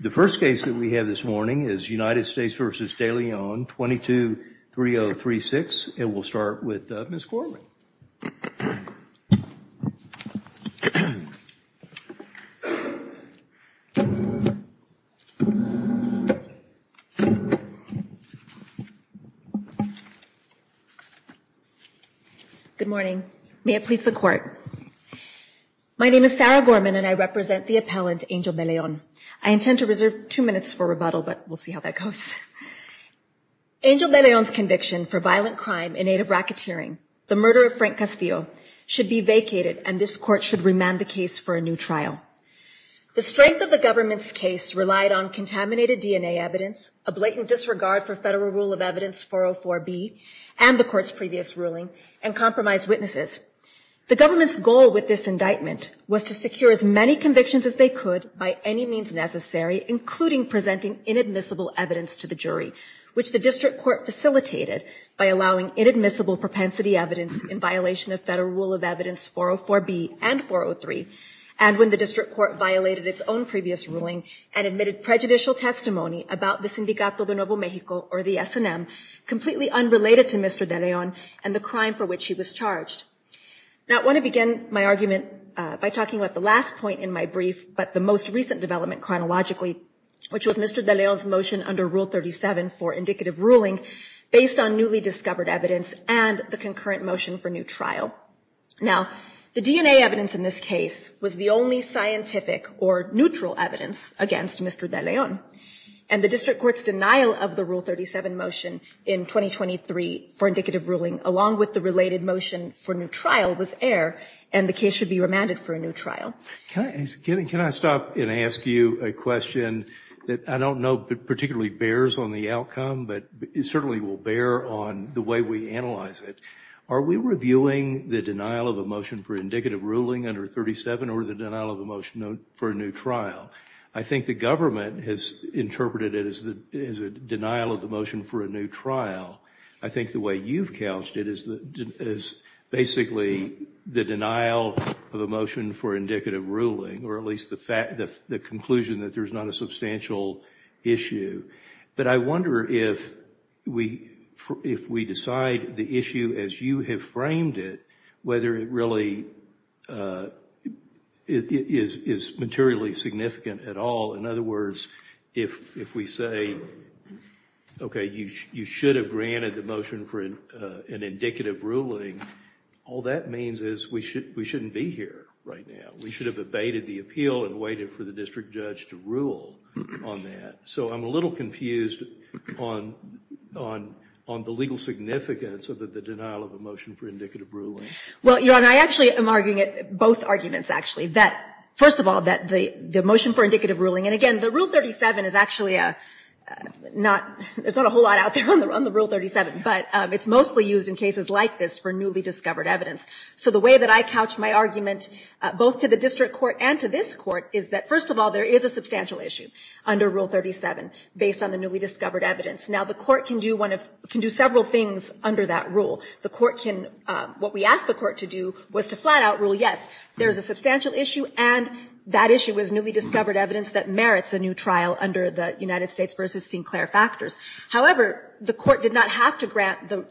The first case that we have this morning is United States v. DeLeon, 22-3036, and we'll start with Ms. Gorman. Good morning. May it please the Court. My name is Sarah Gorman, and I represent the appellant, Angel DeLeon. I intend to reserve two minutes for rebuttal, but we'll see how that goes. Angel DeLeon's conviction for violent crime in aid of racketeering, the murder of Frank Castillo, should be vacated, and this Court should remand the case for a new trial. The strength of the government's case relied on contaminated DNA evidence, a blatant disregard for Federal Rule of Evidence 404B and the Court's previous ruling, and compromised witnesses. The government's goal with this indictment was to secure as many convictions as they could by any means necessary, including presenting inadmissible evidence to the jury, which the District Court facilitated by allowing inadmissible propensity evidence in violation of Federal Rule of Evidence 404B and 403, and when the District Court violated its own previous ruling and admitted prejudicial testimony about the Sindicato de Nuevo México, or the S&M, completely unrelated to Mr. DeLeon and the crime for which he was charged. Now, I want to begin my argument by talking about the last point in my brief, but the most recent development chronologically, which was Mr. DeLeon's motion under Rule 37 for indicative ruling based on newly discovered evidence and the concurrent motion for new trial. Now, the DNA evidence in this case was the only scientific or neutral evidence against Mr. DeLeon, and the District Court's denial of the Rule 37 motion in 2023 for indicative ruling, along with the related motion for new trial, was air, and the case should be remanded for a new trial. Can I stop and ask you a question that I don't know particularly bears on the outcome, but it certainly will bear on the way we analyze it. Are we reviewing the denial of a motion for indicative ruling under 37 or the denial of a motion for a new trial? I think the government has interpreted it as a denial of the motion for a new trial. I think the way you've couched it is basically the denial of a motion for indicative ruling, or at least the conclusion that there's not a substantial issue. But I wonder if we decide the issue as you have framed it, whether it really is materially significant at all. In other words, if we say, okay, you should have granted the motion for an indicative ruling, all that means is we shouldn't be here right now. We should have abated the appeal and waited for the district judge to rule on that. So I'm a little confused on the legal significance of the denial of a motion for indicative ruling. Well, Your Honor, I actually am arguing both arguments, actually. First of all, the motion for indicative ruling, and again, the Rule 37 is actually not, there's not a whole lot out there on the Rule 37, but it's mostly used in cases like this for newly discovered evidence. So the way that I couch my argument, both to the district court and to this court, is that first of all, there is a substantial issue under Rule 37 based on the newly discovered evidence. Now, the court can do one of, can do several things under that rule. The court can, what we asked the court to do was to flat-out rule yes, there is a substantial issue, and that issue is newly discovered evidence that merits a new trial under the United States v. Sinclair factors. However, the court did not have to grant the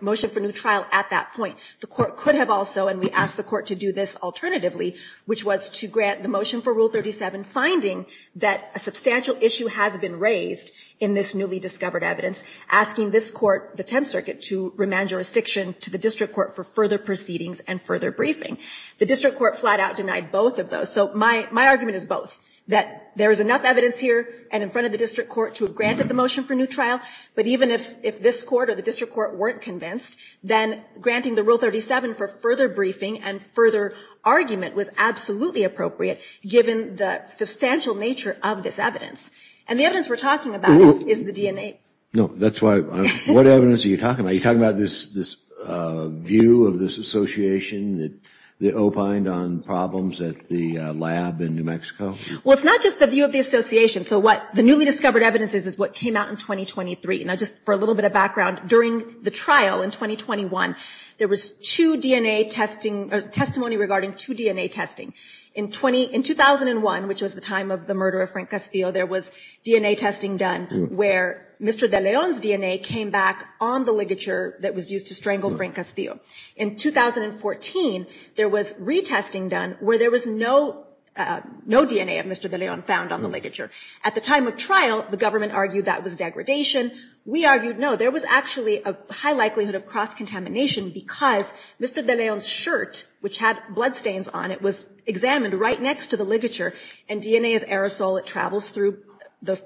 motion for new trial at that point. The court could have also, and we asked the court to do this alternatively, which was to grant the motion for Rule 37, finding that a substantial issue has been raised in this newly discovered evidence, asking this court, the Tenth Circuit, to remand jurisdiction to the district court for further proceedings and further briefing. The district court flat-out denied both of those. So my argument is both, that there is enough evidence here and in front of the district court to have granted the motion for new trial, but even if this court or the district court weren't convinced, then granting the Rule 37 for further briefing and further argument was absolutely appropriate, given the substantial nature of this evidence. And the evidence we're talking about is the DNA. No, that's why, what evidence are you talking about? Are you talking about this view of this association that opined on problems at the lab in New Mexico? Well, it's not just the view of the association. So what the newly discovered evidence is, is what came out in 2023. Now, just for a little bit of background, during the trial in 2021, there was two DNA testing, or testimony regarding two DNA testing. In 2001, which was the time of the murder of Frank Castillo, there was DNA testing done where Mr. De Leon's DNA came back on the ligature that was used to strangle Frank Castillo. In 2014, there was retesting done where there was no DNA of Mr. De Leon found on the ligature. At the time of trial, the government argued that was degradation. We argued, no, there was actually a high likelihood of cross-contamination because Mr. De Leon's shirt, which had bloodstains on it, was examined right next to the ligature, and DNA is aerosol. It travels through the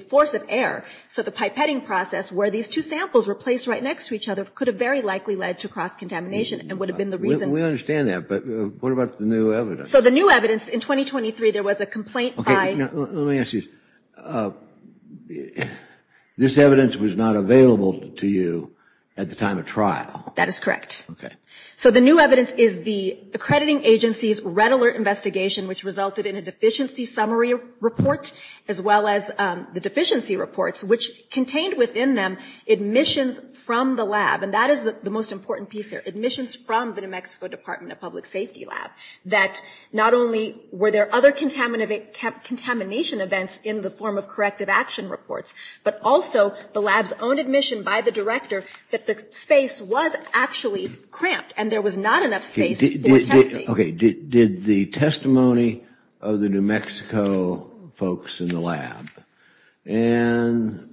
force of air. So the pipetting process where these two samples were placed right next to each other could have very likely led to cross-contamination and would have been the reason. We understand that, but what about the new evidence? So the new evidence in 2023, there was a complaint by... Let me ask you, this evidence was not available to you at the time of trial. That is correct. Okay. So the new evidence is the accrediting agency's red alert investigation, which resulted in a deficiency summary report, as well as the deficiency reports, which contained within them admissions from the lab, and that is the most important piece there, admissions from the New Mexico Department of Public Safety lab, that not only were there other contamination events in the form of corrective action reports, but also the lab's own admission by the director that the space was actually cramped and there was not enough space for testing. Okay. Did the testimony of the New Mexico folks in the lab and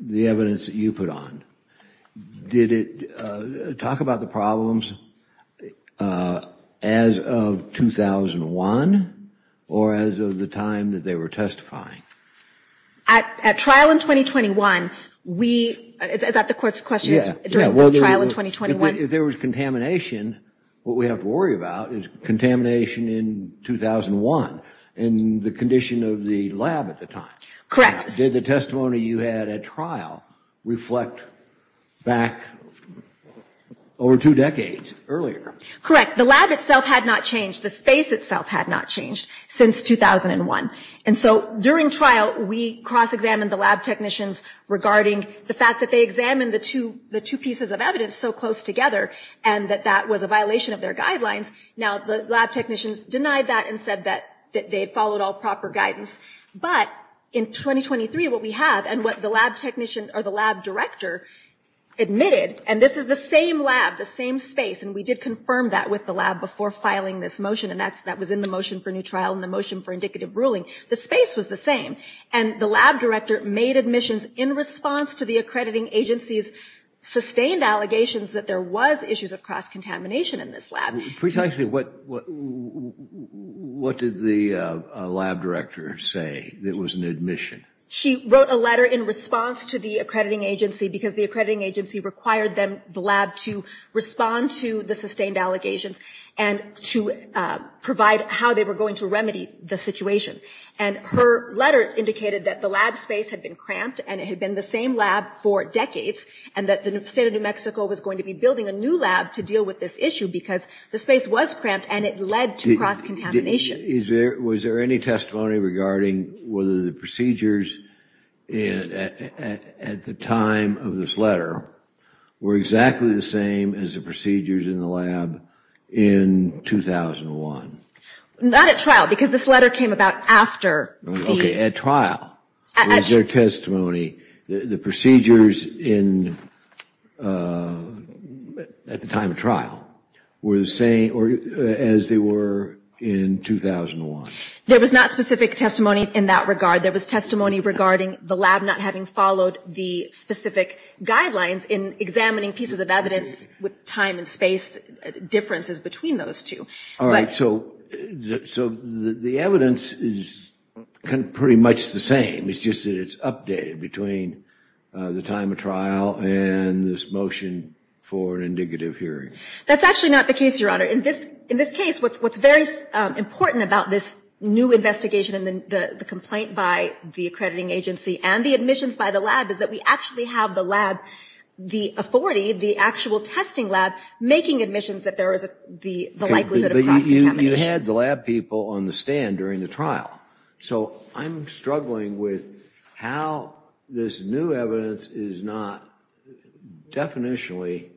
the evidence that you put on, did it talk about the problems as of 2001 or as of the time that they were testifying? At trial in 2021, we... Is that the court's question? If there was contamination, what we have to worry about is contamination in 2001 and the condition of the lab at the time. Correct. Did the testimony you had at trial reflect back over two decades earlier? Correct. The lab itself had not changed. The space itself had not changed since 2001. During trial, we cross-examined the lab technicians regarding the fact that they examined the two pieces of evidence so close together and that that was a violation of their guidelines. Now, the lab technicians denied that and said that they had followed all proper guidance. But in 2023, what we have and what the lab technician or the lab director admitted, and this is the same lab, the same space, and we did confirm that with the lab before filing this motion, and that was in the motion for new trial and the motion for indicative ruling. The space was the same. And the lab director made admissions in response to the accrediting agency's sustained allegations that there was issues of cross-contamination in this lab. Precisely what did the lab director say that was an admission? She wrote a letter in response to the accrediting agency because the accrediting agency required the lab to respond to the sustained allegations and to provide how they were going to remedy the situation. And her letter indicated that the lab space had been cramped and it had been the same lab for decades and that the state of New Mexico was going to be building a new lab to deal with this issue because the space was cramped and it led to cross-contamination. Was there any testimony regarding whether the procedures at the time of this letter were exactly the same as the procedures in the lab in 2001? Not at trial because this letter came about after. Okay, at trial. Was there testimony that the procedures at the time of trial were the same as they were in 2001? There was not specific testimony in that regard. There was testimony regarding the lab not having followed the specific guidelines in examining pieces of evidence with time and space differences between those two. All right, so the evidence is pretty much the same. It's just that it's updated between the time of trial and this motion for an indicative hearing. That's actually not the case, Your Honor. In this case, what's very important about this new investigation and the complaint by the accrediting agency and the admissions by the lab is that we actually have the lab, the authority, the actual testing lab, making admissions that there is the likelihood of cross-contamination. Okay, but you had the lab people on the stand during the trial. So I'm struggling with how this new evidence is not definitionally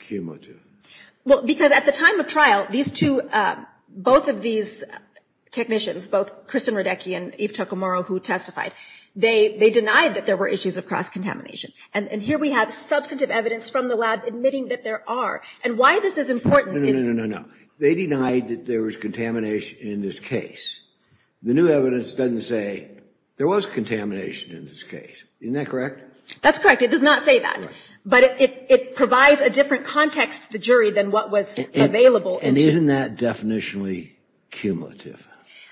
cumulative. Well, because at the time of trial, these two, both of these technicians, both Kristen Radecki and Eve Toccomoro who testified, they denied that there were issues of cross-contamination. And here we have substantive evidence from the lab admitting that there are. And why this is important is – No, no, no, no, no. They denied that there was contamination in this case. The new evidence doesn't say there was contamination in this case. Isn't that correct? That's correct. It does not say that. But it provides a different context to the jury than what was available. And isn't that definitionally cumulative?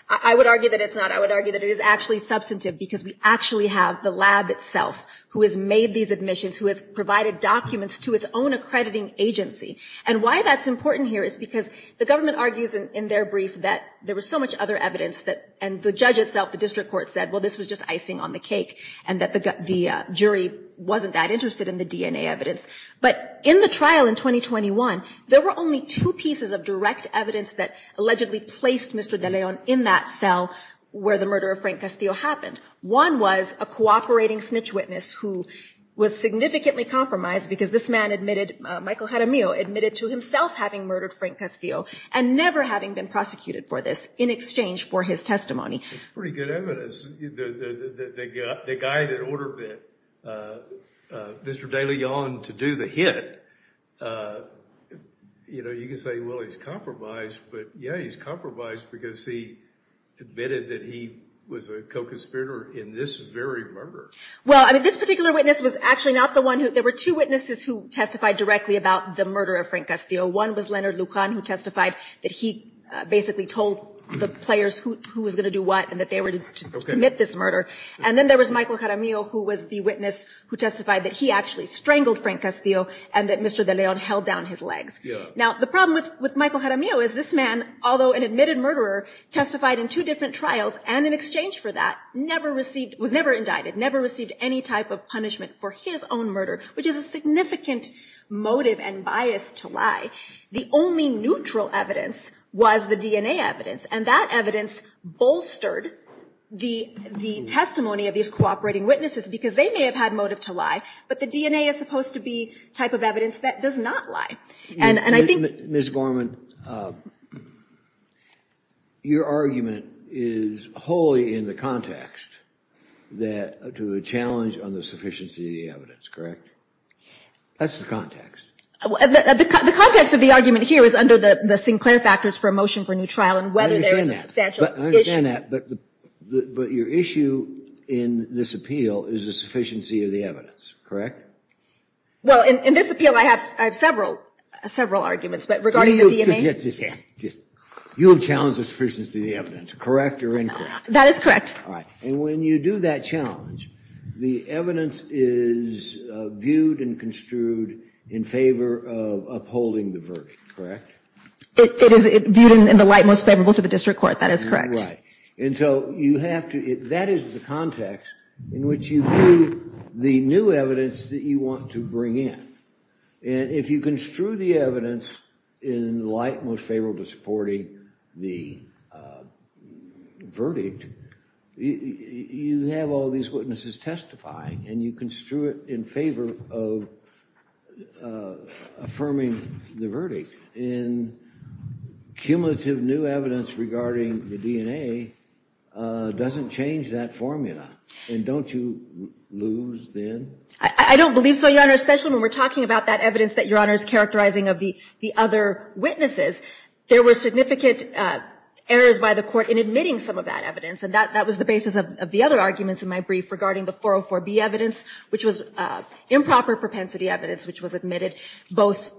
I would argue that it's not. I would argue that it is actually substantive because we actually have the lab itself who has made these admissions, who has provided documents to its own accrediting agency. And why that's important here is because the government argues in their brief that there was so much other evidence and the judge itself, the district court, said, well, this was just icing on the cake and that the jury wasn't that interested in the DNA evidence. But in the trial in 2021, there were only two pieces of direct evidence that allegedly placed Mr. DeLeon in that cell where the murder of Frank Castillo happened. One was a cooperating snitch witness who was significantly compromised because this man admitted, Michael Jaramillo, admitted to himself having murdered Frank Castillo and never having been prosecuted for this in exchange for his testimony. That's pretty good evidence. The guy that ordered Mr. DeLeon to do the hit, you can say, well, he's compromised. But, yeah, he's compromised because he admitted that he was a co-conspirator in this very murder. Well, I mean, this particular witness was actually not the one who there were two witnesses who testified directly about the murder of Frank Castillo. One was Leonard Lucan who testified that he basically told the players who was going to do what and that they were to commit this murder. And then there was Michael Jaramillo, who was the witness who testified that he actually strangled Frank Castillo and that Mr. DeLeon held down his legs. Now, the problem with Michael Jaramillo is this man, although an admitted murderer, testified in two different trials and in exchange for that, never received, was never indicted, never received any type of punishment for his own murder, which is a significant motive and bias to lie. The only neutral evidence was the DNA evidence, and that evidence bolstered the testimony of these cooperating witnesses because they may have had motive to lie, but the DNA is supposed to be the type of evidence that does not lie. And I think – Ms. Gorman, your argument is wholly in the context that – to a challenge on the sufficiency of the evidence, correct? That's the context. The context of the argument here is under the Sinclair factors for a motion for a new trial and whether there is a substantial issue. I understand that, but your issue in this appeal is the sufficiency of the evidence, correct? Well, in this appeal I have several arguments, but regarding the DNA – You have challenged the sufficiency of the evidence, correct or incorrect? That is correct. All right. And when you do that challenge, the evidence is viewed and construed in favor of upholding the verdict, correct? It is viewed in the light most favorable to the district court. That is correct. Right. And so you have to – that is the context in which you view the new evidence that you want to bring in. And if you construe the evidence in the light most favorable to supporting the verdict, you have all these witnesses testifying and you construe it in favor of affirming the verdict. And cumulative new evidence regarding the DNA doesn't change that formula. And don't you lose then? I don't believe so, Your Honor, especially when we're talking about that evidence that Your Honor is characterizing of the other witnesses. There were significant errors by the court in admitting some of that evidence, and that was the basis of the other arguments in my brief regarding the 404B evidence, which was improper propensity evidence, which was admitted both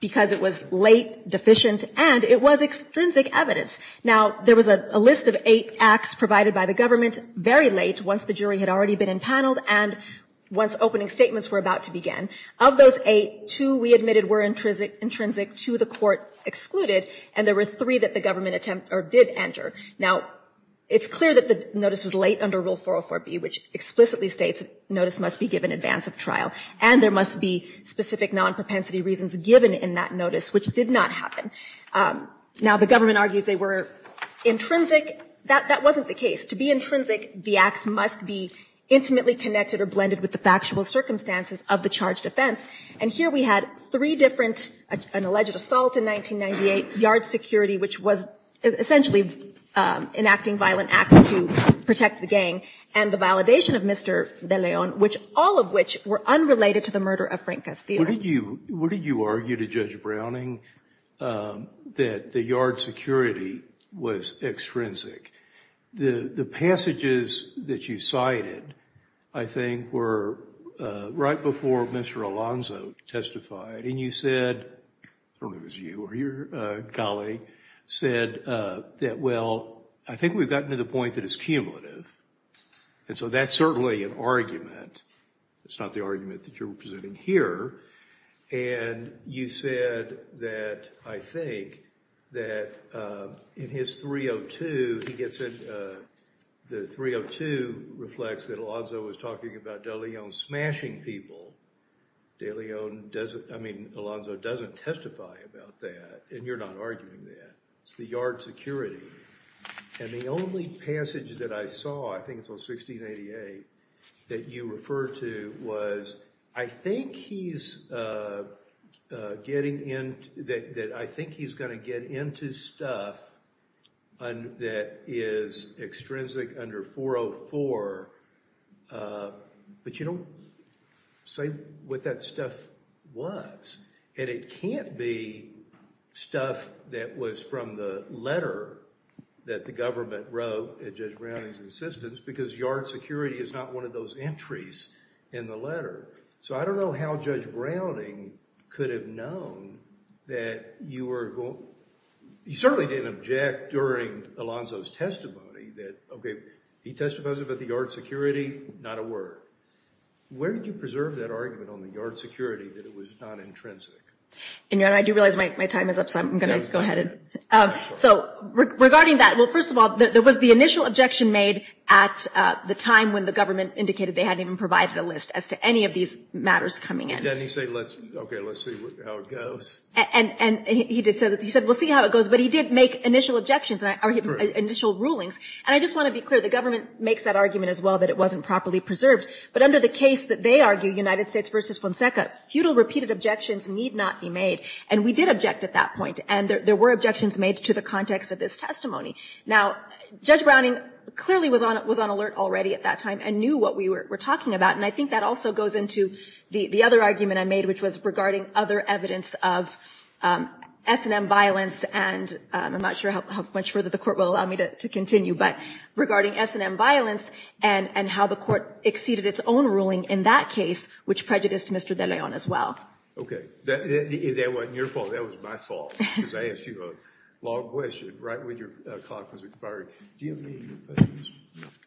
because it was late, deficient, and it was extrinsic evidence. Now, there was a list of eight acts provided by the government very late, once the jury had already been empaneled and once opening statements were about to begin. Of those eight, two we admitted were intrinsic to the court excluded, and there were three that the government did enter. Now, it's clear that the notice was late under Rule 404B, which explicitly states notice must be given in advance of trial, and there must be specific non-propensity reasons given in that notice, which did not happen. Now, the government argues they were intrinsic. That wasn't the case. To be intrinsic, the acts must be intimately connected or blended with the factual circumstances of the charged offense. And here we had three different, an alleged assault in 1998, yard security, which was essentially enacting violent acts to protect the gang, and the validation of Mr. De Leon, all of which were unrelated to the murder of Frank Castillo. What did you argue to Judge Browning that the yard security was extrinsic? The passages that you cited, I think, were right before Mr. Alonzo testified, and you said, or it was you or your colleague, said that, well, I think we've gotten to the point that it's cumulative, and so that's certainly an argument. It's not the argument that you're presenting here. And you said that, I think, that in his 302, he gets a – the 302 reflects that Alonzo was talking about De Leon smashing people. De Leon doesn't – I mean, Alonzo doesn't testify about that, and you're not arguing that. It's the yard security. And the only passage that I saw, I think it's on 1688, that you refer to was, I think he's getting into – that I think he's going to get into stuff that is extrinsic under 404, but you don't say what that stuff was. And it can't be stuff that was from the letter that the government wrote at Judge Browning's insistence, because yard security is not one of those entries in the letter. So I don't know how Judge Browning could have known that you were – he certainly didn't object during Alonzo's testimony that, okay, he testified about the yard security, not a word. Where did you preserve that argument on the yard security, that it was not intrinsic? And I do realize my time is up, so I'm going to go ahead and – So regarding that, well, first of all, there was the initial objection made at the time when the government indicated they hadn't even provided a list as to any of these matters coming in. Didn't he say, okay, let's see how it goes? And he said, we'll see how it goes. But he did make initial objections, initial rulings. And I just want to be clear, the government makes that argument as well, that it wasn't properly preserved. But under the case that they argue, United States v. Fonseca, futile repeated objections need not be made. And we did object at that point. And there were objections made to the context of this testimony. Now, Judge Browning clearly was on alert already at that time and knew what we were talking about. And I think that also goes into the other argument I made, which was regarding other evidence of S&M violence, and I'm not sure how much further the Court will allow me to continue, but regarding S&M violence and how the Court exceeded its own ruling in that case, which prejudiced Mr. De Leon as well. Okay. If that wasn't your fault, that was my fault, because I asked you a long question right when your clock was expired. Do you have any questions?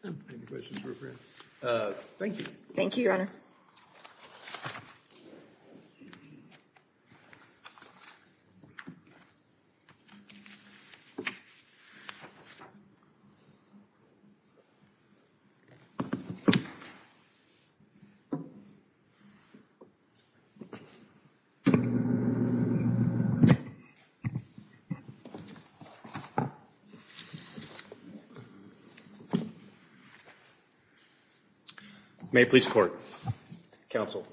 Any questions for a friend? Thank you. Thank you, Your Honor. May it please the Court. Counsel,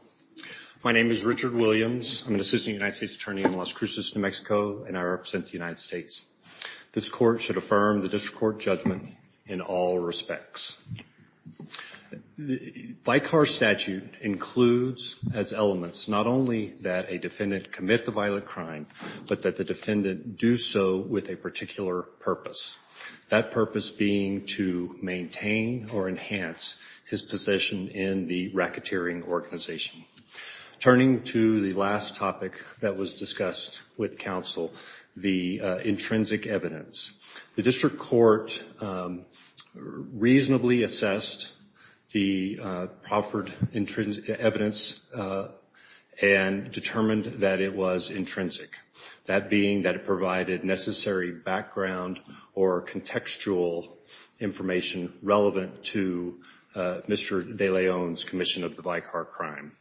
my name is Richard Williams. I'm an assistant United States attorney in Las Cruces, New Mexico, and I represent the United States. This Court should affirm the district court judgment in all respects. Vicar statute includes as elements not only that a defendant commit the violent crime, but that the defendant do so with a particular purpose, that purpose being to maintain or enhance his position in the racketeering organization. Turning to the last topic that was discussed with counsel, the intrinsic evidence. The district court reasonably assessed the proffered evidence and determined that it was intrinsic, that being that it provided necessary background or contextual information relevant to Mr. De Leon's commission of the vicar crime.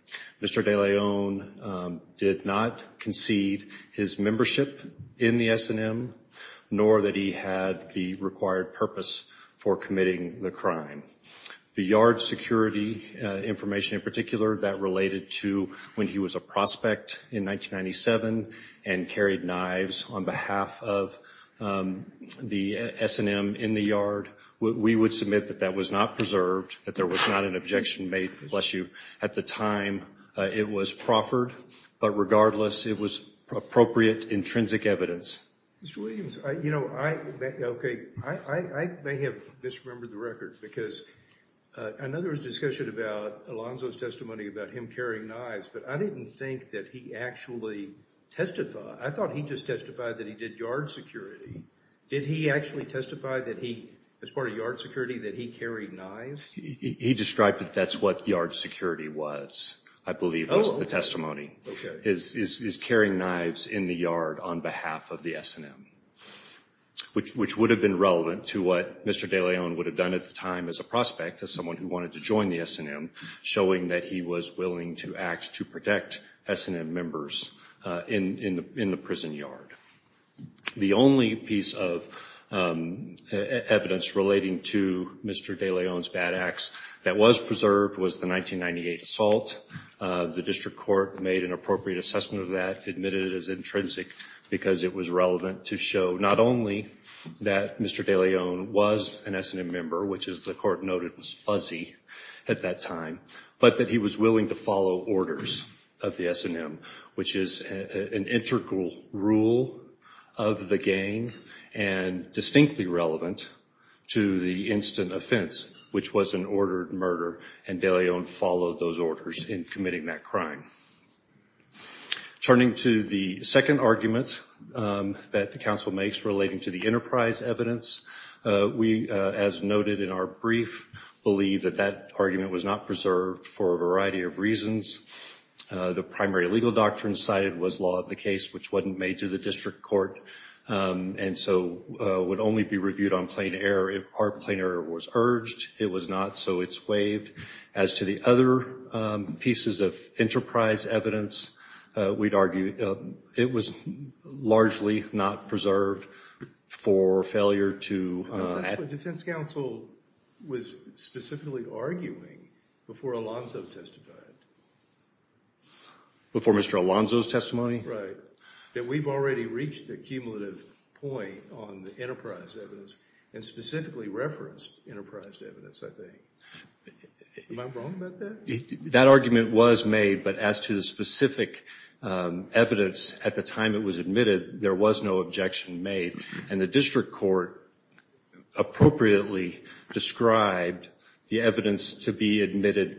Mr. De Leon did not concede his membership in the S&M nor that he had the required purpose for committing the crime. The yard security information in particular that related to when he was a prospect in 1997 and carried knives on behalf of the S&M in the yard, we would submit that that was not preserved, that there was not an objection made. Bless you. At the time, it was proffered, but regardless, it was appropriate intrinsic evidence. Mr. Williams, I may have misremembered the record because I know there was discussion about Alonzo's testimony about him carrying knives, but I didn't think that he actually testified. I thought he just testified that he did yard security. Did he actually testify as part of yard security that he carried knives? He described that that's what yard security was, I believe, was the testimony. He's carrying knives in the yard on behalf of the S&M, which would have been relevant to what Mr. De Leon would have done at the time as a prospect, as someone who wanted to join the S&M, showing that he was willing to act to protect S&M members in the prison yard. The only piece of evidence relating to Mr. De Leon's bad acts that was preserved was the 1998 assault. The district court made an appropriate assessment of that, admitted it as intrinsic because it was relevant to show not only that Mr. De Leon was an S&M member, which as the court noted was fuzzy at that time, but that he was willing to follow orders of the S&M, which is an integral rule of the gang and distinctly relevant to the instant offense, which was an ordered murder, and De Leon followed those orders in committing that crime. Turning to the second argument that the council makes relating to the enterprise evidence, we, as noted in our brief, believe that that argument was not preserved for a variety of reasons. The primary legal doctrine cited was law of the case, which wasn't made to the district court, and so would only be reviewed on plain error if our plain error was urged. It was not, so it's waived. As to the other pieces of enterprise evidence, we'd argue it was largely not preserved for failure to- That's what defense counsel was specifically arguing before Alonzo testified. Before Mr. Alonzo's testimony? Right, that we've already reached the cumulative point on the enterprise evidence and specifically referenced enterprise evidence, I think. Am I wrong about that? That argument was made, but as to the specific evidence at the time it was admitted, there was no objection made, and the district court appropriately described the evidence to be admitted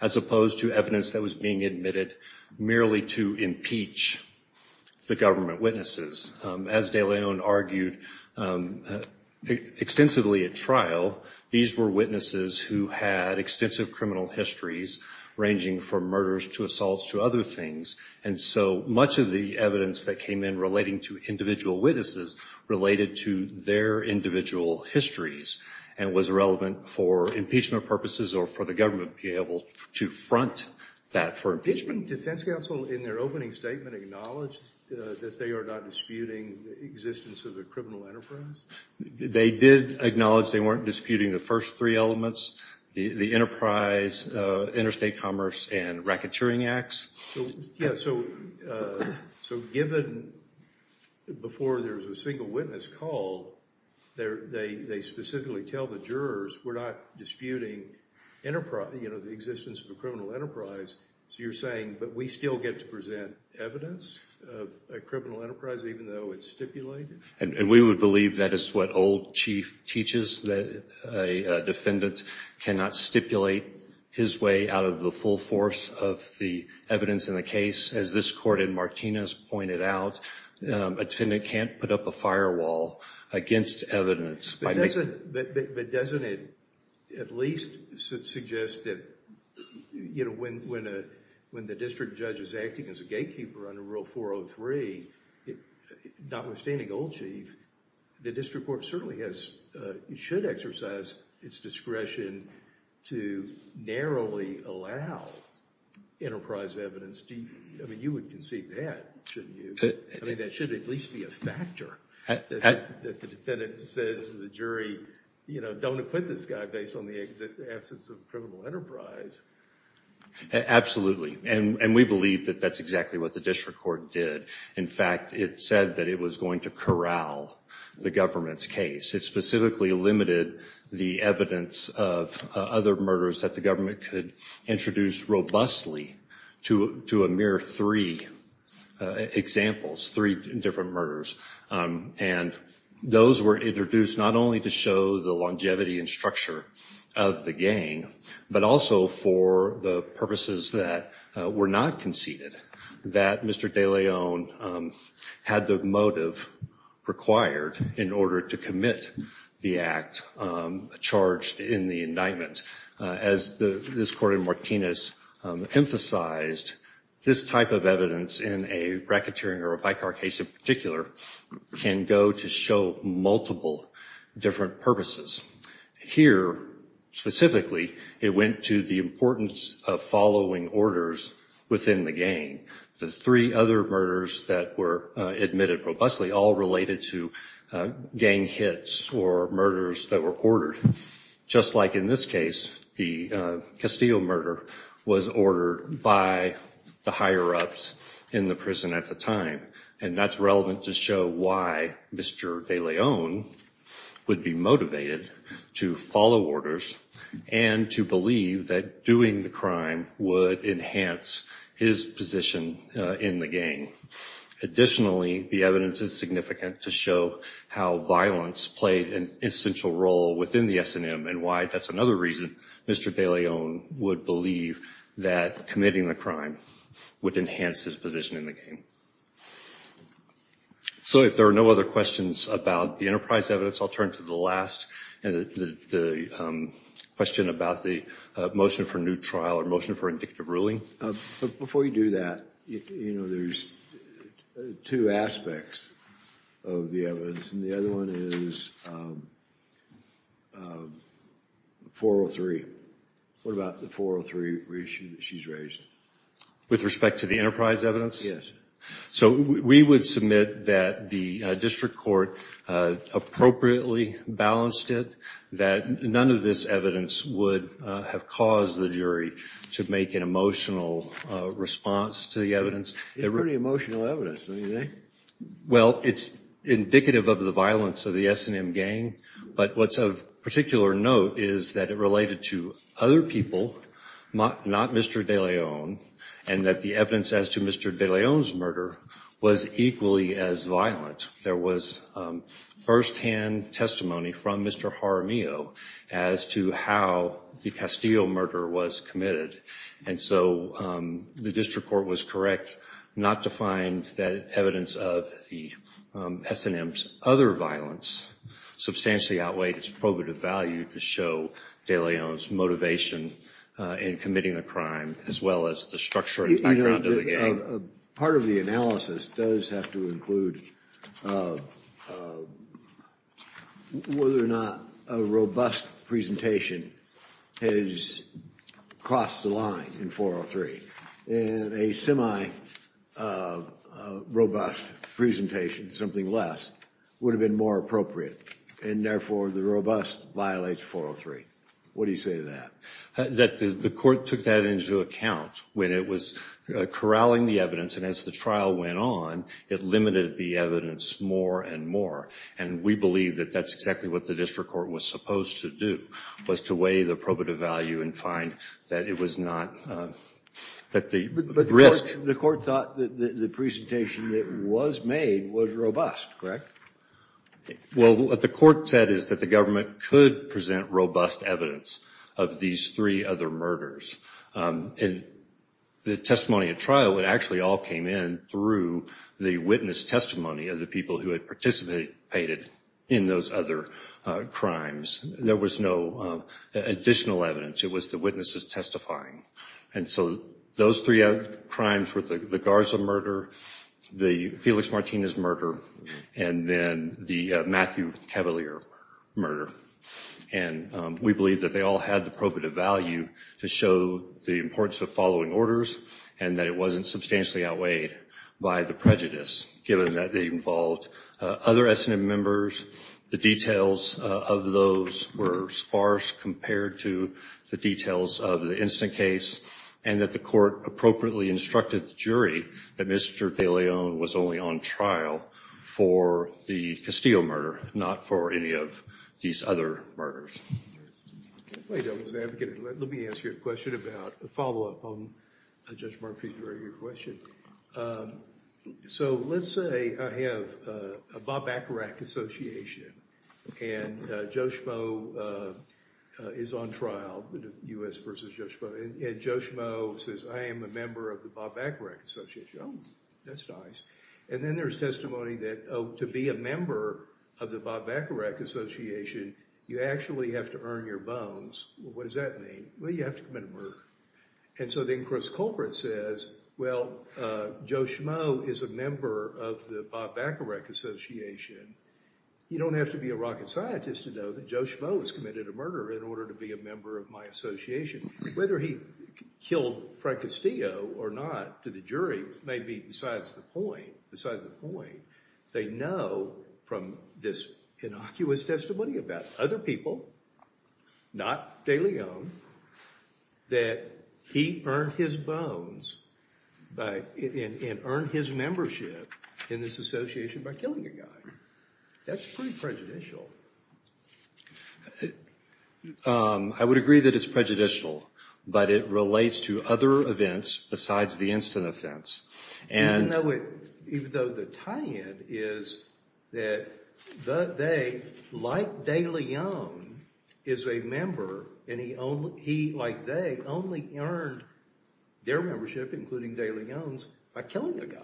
as opposed to evidence that was being admitted merely to impeach the government witnesses. As de Leon argued extensively at trial, these were witnesses who had extensive criminal histories ranging from murders to assaults to other things, and so much of the evidence that came in relating to individual witnesses related to their individual histories and was relevant for impeachment purposes or for the government to be able to front that for impeachment. Didn't defense counsel in their opening statement acknowledge that they are not disputing the existence of a criminal enterprise? They did acknowledge they weren't disputing the first three elements, the enterprise, interstate commerce, and racketeering acts. Yes, so given before there's a single witness called, they specifically tell the jurors we're not disputing the existence of a criminal enterprise. So you're saying, but we still get to present evidence of a criminal enterprise even though it's stipulated? And we would believe that is what old chief teaches, that a defendant cannot stipulate his way out of the full force of the evidence in the case. As this court in Martinez pointed out, a defendant can't put up a firewall against evidence. But doesn't it at least suggest that when the district judge is acting as a gatekeeper under Rule 403, notwithstanding old chief, the district court certainly has, should exercise its discretion to narrowly allow enterprise evidence. I mean, you would concede that, shouldn't you? I mean, that should at least be a factor that the defendant says to the jury, you know, don't acquit this guy based on the absence of a criminal enterprise. Absolutely. And we believe that that's exactly what the district court did. In fact, it said that it was going to corral the government's case. It specifically limited the evidence of other murders that the government could introduce robustly to a mere three examples, three different murders. And those were introduced not only to show the longevity and structure of the gang, but also for the purposes that were not conceded, that Mr. De Leon had the motive required in order to commit the act charged in the indictment. As this court in Martinez emphasized, this type of evidence in a racketeering or a bike car case in particular can go to show multiple different purposes. Here, specifically, it went to the importance of following orders within the gang. The three other murders that were admitted robustly all related to gang hits or murders that were ordered. Just like in this case, the Castillo murder was ordered by the higher ups in the prison at the time. And that's relevant to show why Mr. De Leon would be motivated to follow orders and to believe that doing the crime would enhance his position in the gang. Additionally, the evidence is significant to show how violence played an essential role within the S&M and why that's another reason Mr. De Leon would believe that committing the crime would enhance his position in the gang. So if there are no other questions about the enterprise evidence, I'll turn to the last question about the motion for new trial or motion for indicative ruling. Before you do that, there's two aspects of the evidence, and the other one is 403. What about the 403 reissue that she's raised? With respect to the enterprise evidence? Yes. So we would submit that the district court appropriately balanced it, that none of this evidence would have caused the jury to make an emotional response to the evidence. It's pretty emotional evidence, don't you think? Well, it's indicative of the violence of the S&M gang, but what's of particular note is that it related to other people, not Mr. De Leon, and that the evidence as to Mr. De Leon's murder was equally as violent. There was firsthand testimony from Mr. Jaramillo as to how the Castillo murder was committed, and so the district court was correct not to find that evidence of the S&M's other violence substantially outweighed its probative value to show De Leon's motivation in committing the crime as well as the structural background of the gang. Part of the analysis does have to include whether or not a robust presentation has crossed the line in 403, and a semi-robust presentation, something less, would have been more appropriate, and therefore the robust violates 403. What do you say to that? That the court took that into account when it was corralling the evidence, and as the trial went on, it limited the evidence more and more, and we believe that that's exactly what the district court was supposed to do, was to weigh the probative value and find that it was not, that the risk... But the court thought that the presentation that was made was robust, correct? Well, what the court said is that the government could present robust evidence of these three other murders, and the testimony at trial, it actually all came in through the witness testimony of the people who had participated in those other crimes. There was no additional evidence. It was the witnesses testifying, and so those three crimes were the Garza murder, the Felix Martinez murder, and then the Matthew Cavalier murder, and we believe that they all had the probative value to show the importance of following orders and that it wasn't substantially outweighed by the prejudice, given that they involved other S&M members. The details of those were sparse compared to the details of the instant case, and that the court appropriately instructed the jury that Mr. DeLeon was only on trial for the Castillo murder, not for any of these other murders. Let me ask you a question about, a follow-up on Judge Murphy's earlier question. So let's say I have a Bob Ackerack Association, and Joe Schmo is on trial, U.S. v. Joe Schmo, and Joe Schmo says, I am a member of the Bob Ackerack Association. Oh, that's nice. And then there's testimony that, oh, to be a member of the Bob Ackerack Association, you actually have to earn your bones. Well, what does that mean? Well, you have to commit a murder. And so then Chris Colbert says, well, Joe Schmo is a member of the Bob Ackerack Association. You don't have to be a rocket scientist to know that Joe Schmo has committed a murder in order to be a member of my association. Whether he killed Frank Castillo or not to the jury may be besides the point. They know from this innocuous testimony about other people, not DeLeon, that he earned his bones and earned his membership in this association by killing a guy. That's pretty prejudicial. I would agree that it's prejudicial, but it relates to other events besides the instant offense. Even though the tie-in is that they, like DeLeon, is a member, and he, like they, only earned their membership, including DeLeon's, by killing a guy.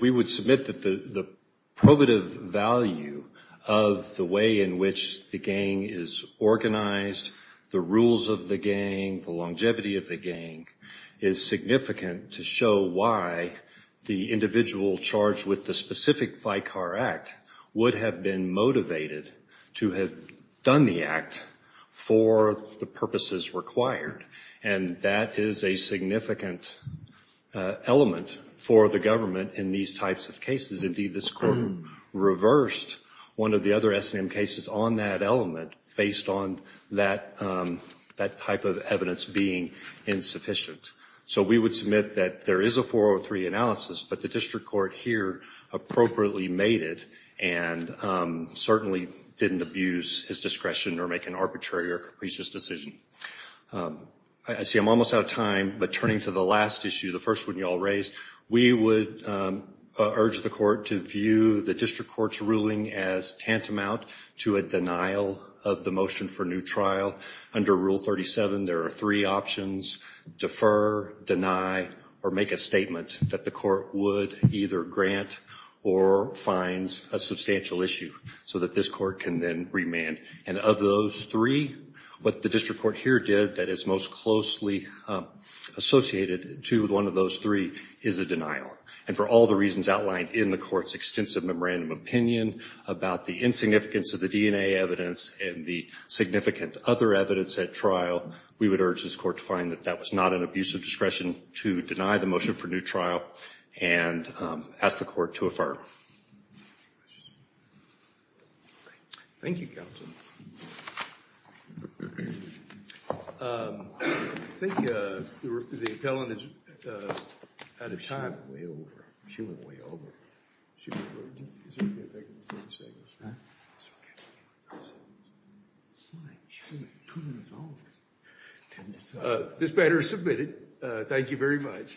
We would submit that the probative value of the way in which the gang is organized, the rules of the gang, the longevity of the gang, is significant to show why the individual charged with the specific Vicar Act would have been motivated to have done the act for the purposes required. And that is a significant element for the government in these types of cases. Indeed, this court reversed one of the other S&M cases on that element based on that type of evidence being insufficient. So we would submit that there is a 403 analysis, but the district court here appropriately made it and certainly didn't abuse his discretion or make an arbitrary or capricious decision. I see I'm almost out of time, but turning to the last issue, the first one you all raised, we would urge the court to view the district court's ruling as tantamount to a denial of the motion for new trial. Under Rule 37, there are three options, defer, deny, or make a statement that the court would either grant or fines a substantial issue so that this court can then remand. And of those three, what the district court here did that is most closely associated to one of those three is a denial. And for all the reasons outlined in the court's extensive memorandum opinion about the insignificance of the DNA evidence and the significant other evidence at trial, we would urge this court to find that that was not an abuse of discretion to deny the motion for new trial and ask the court to affirm. Any questions? Thank you, counsel. I think the appellant is out of time. Way over. She went way over. This matter is submitted. Thank you very much.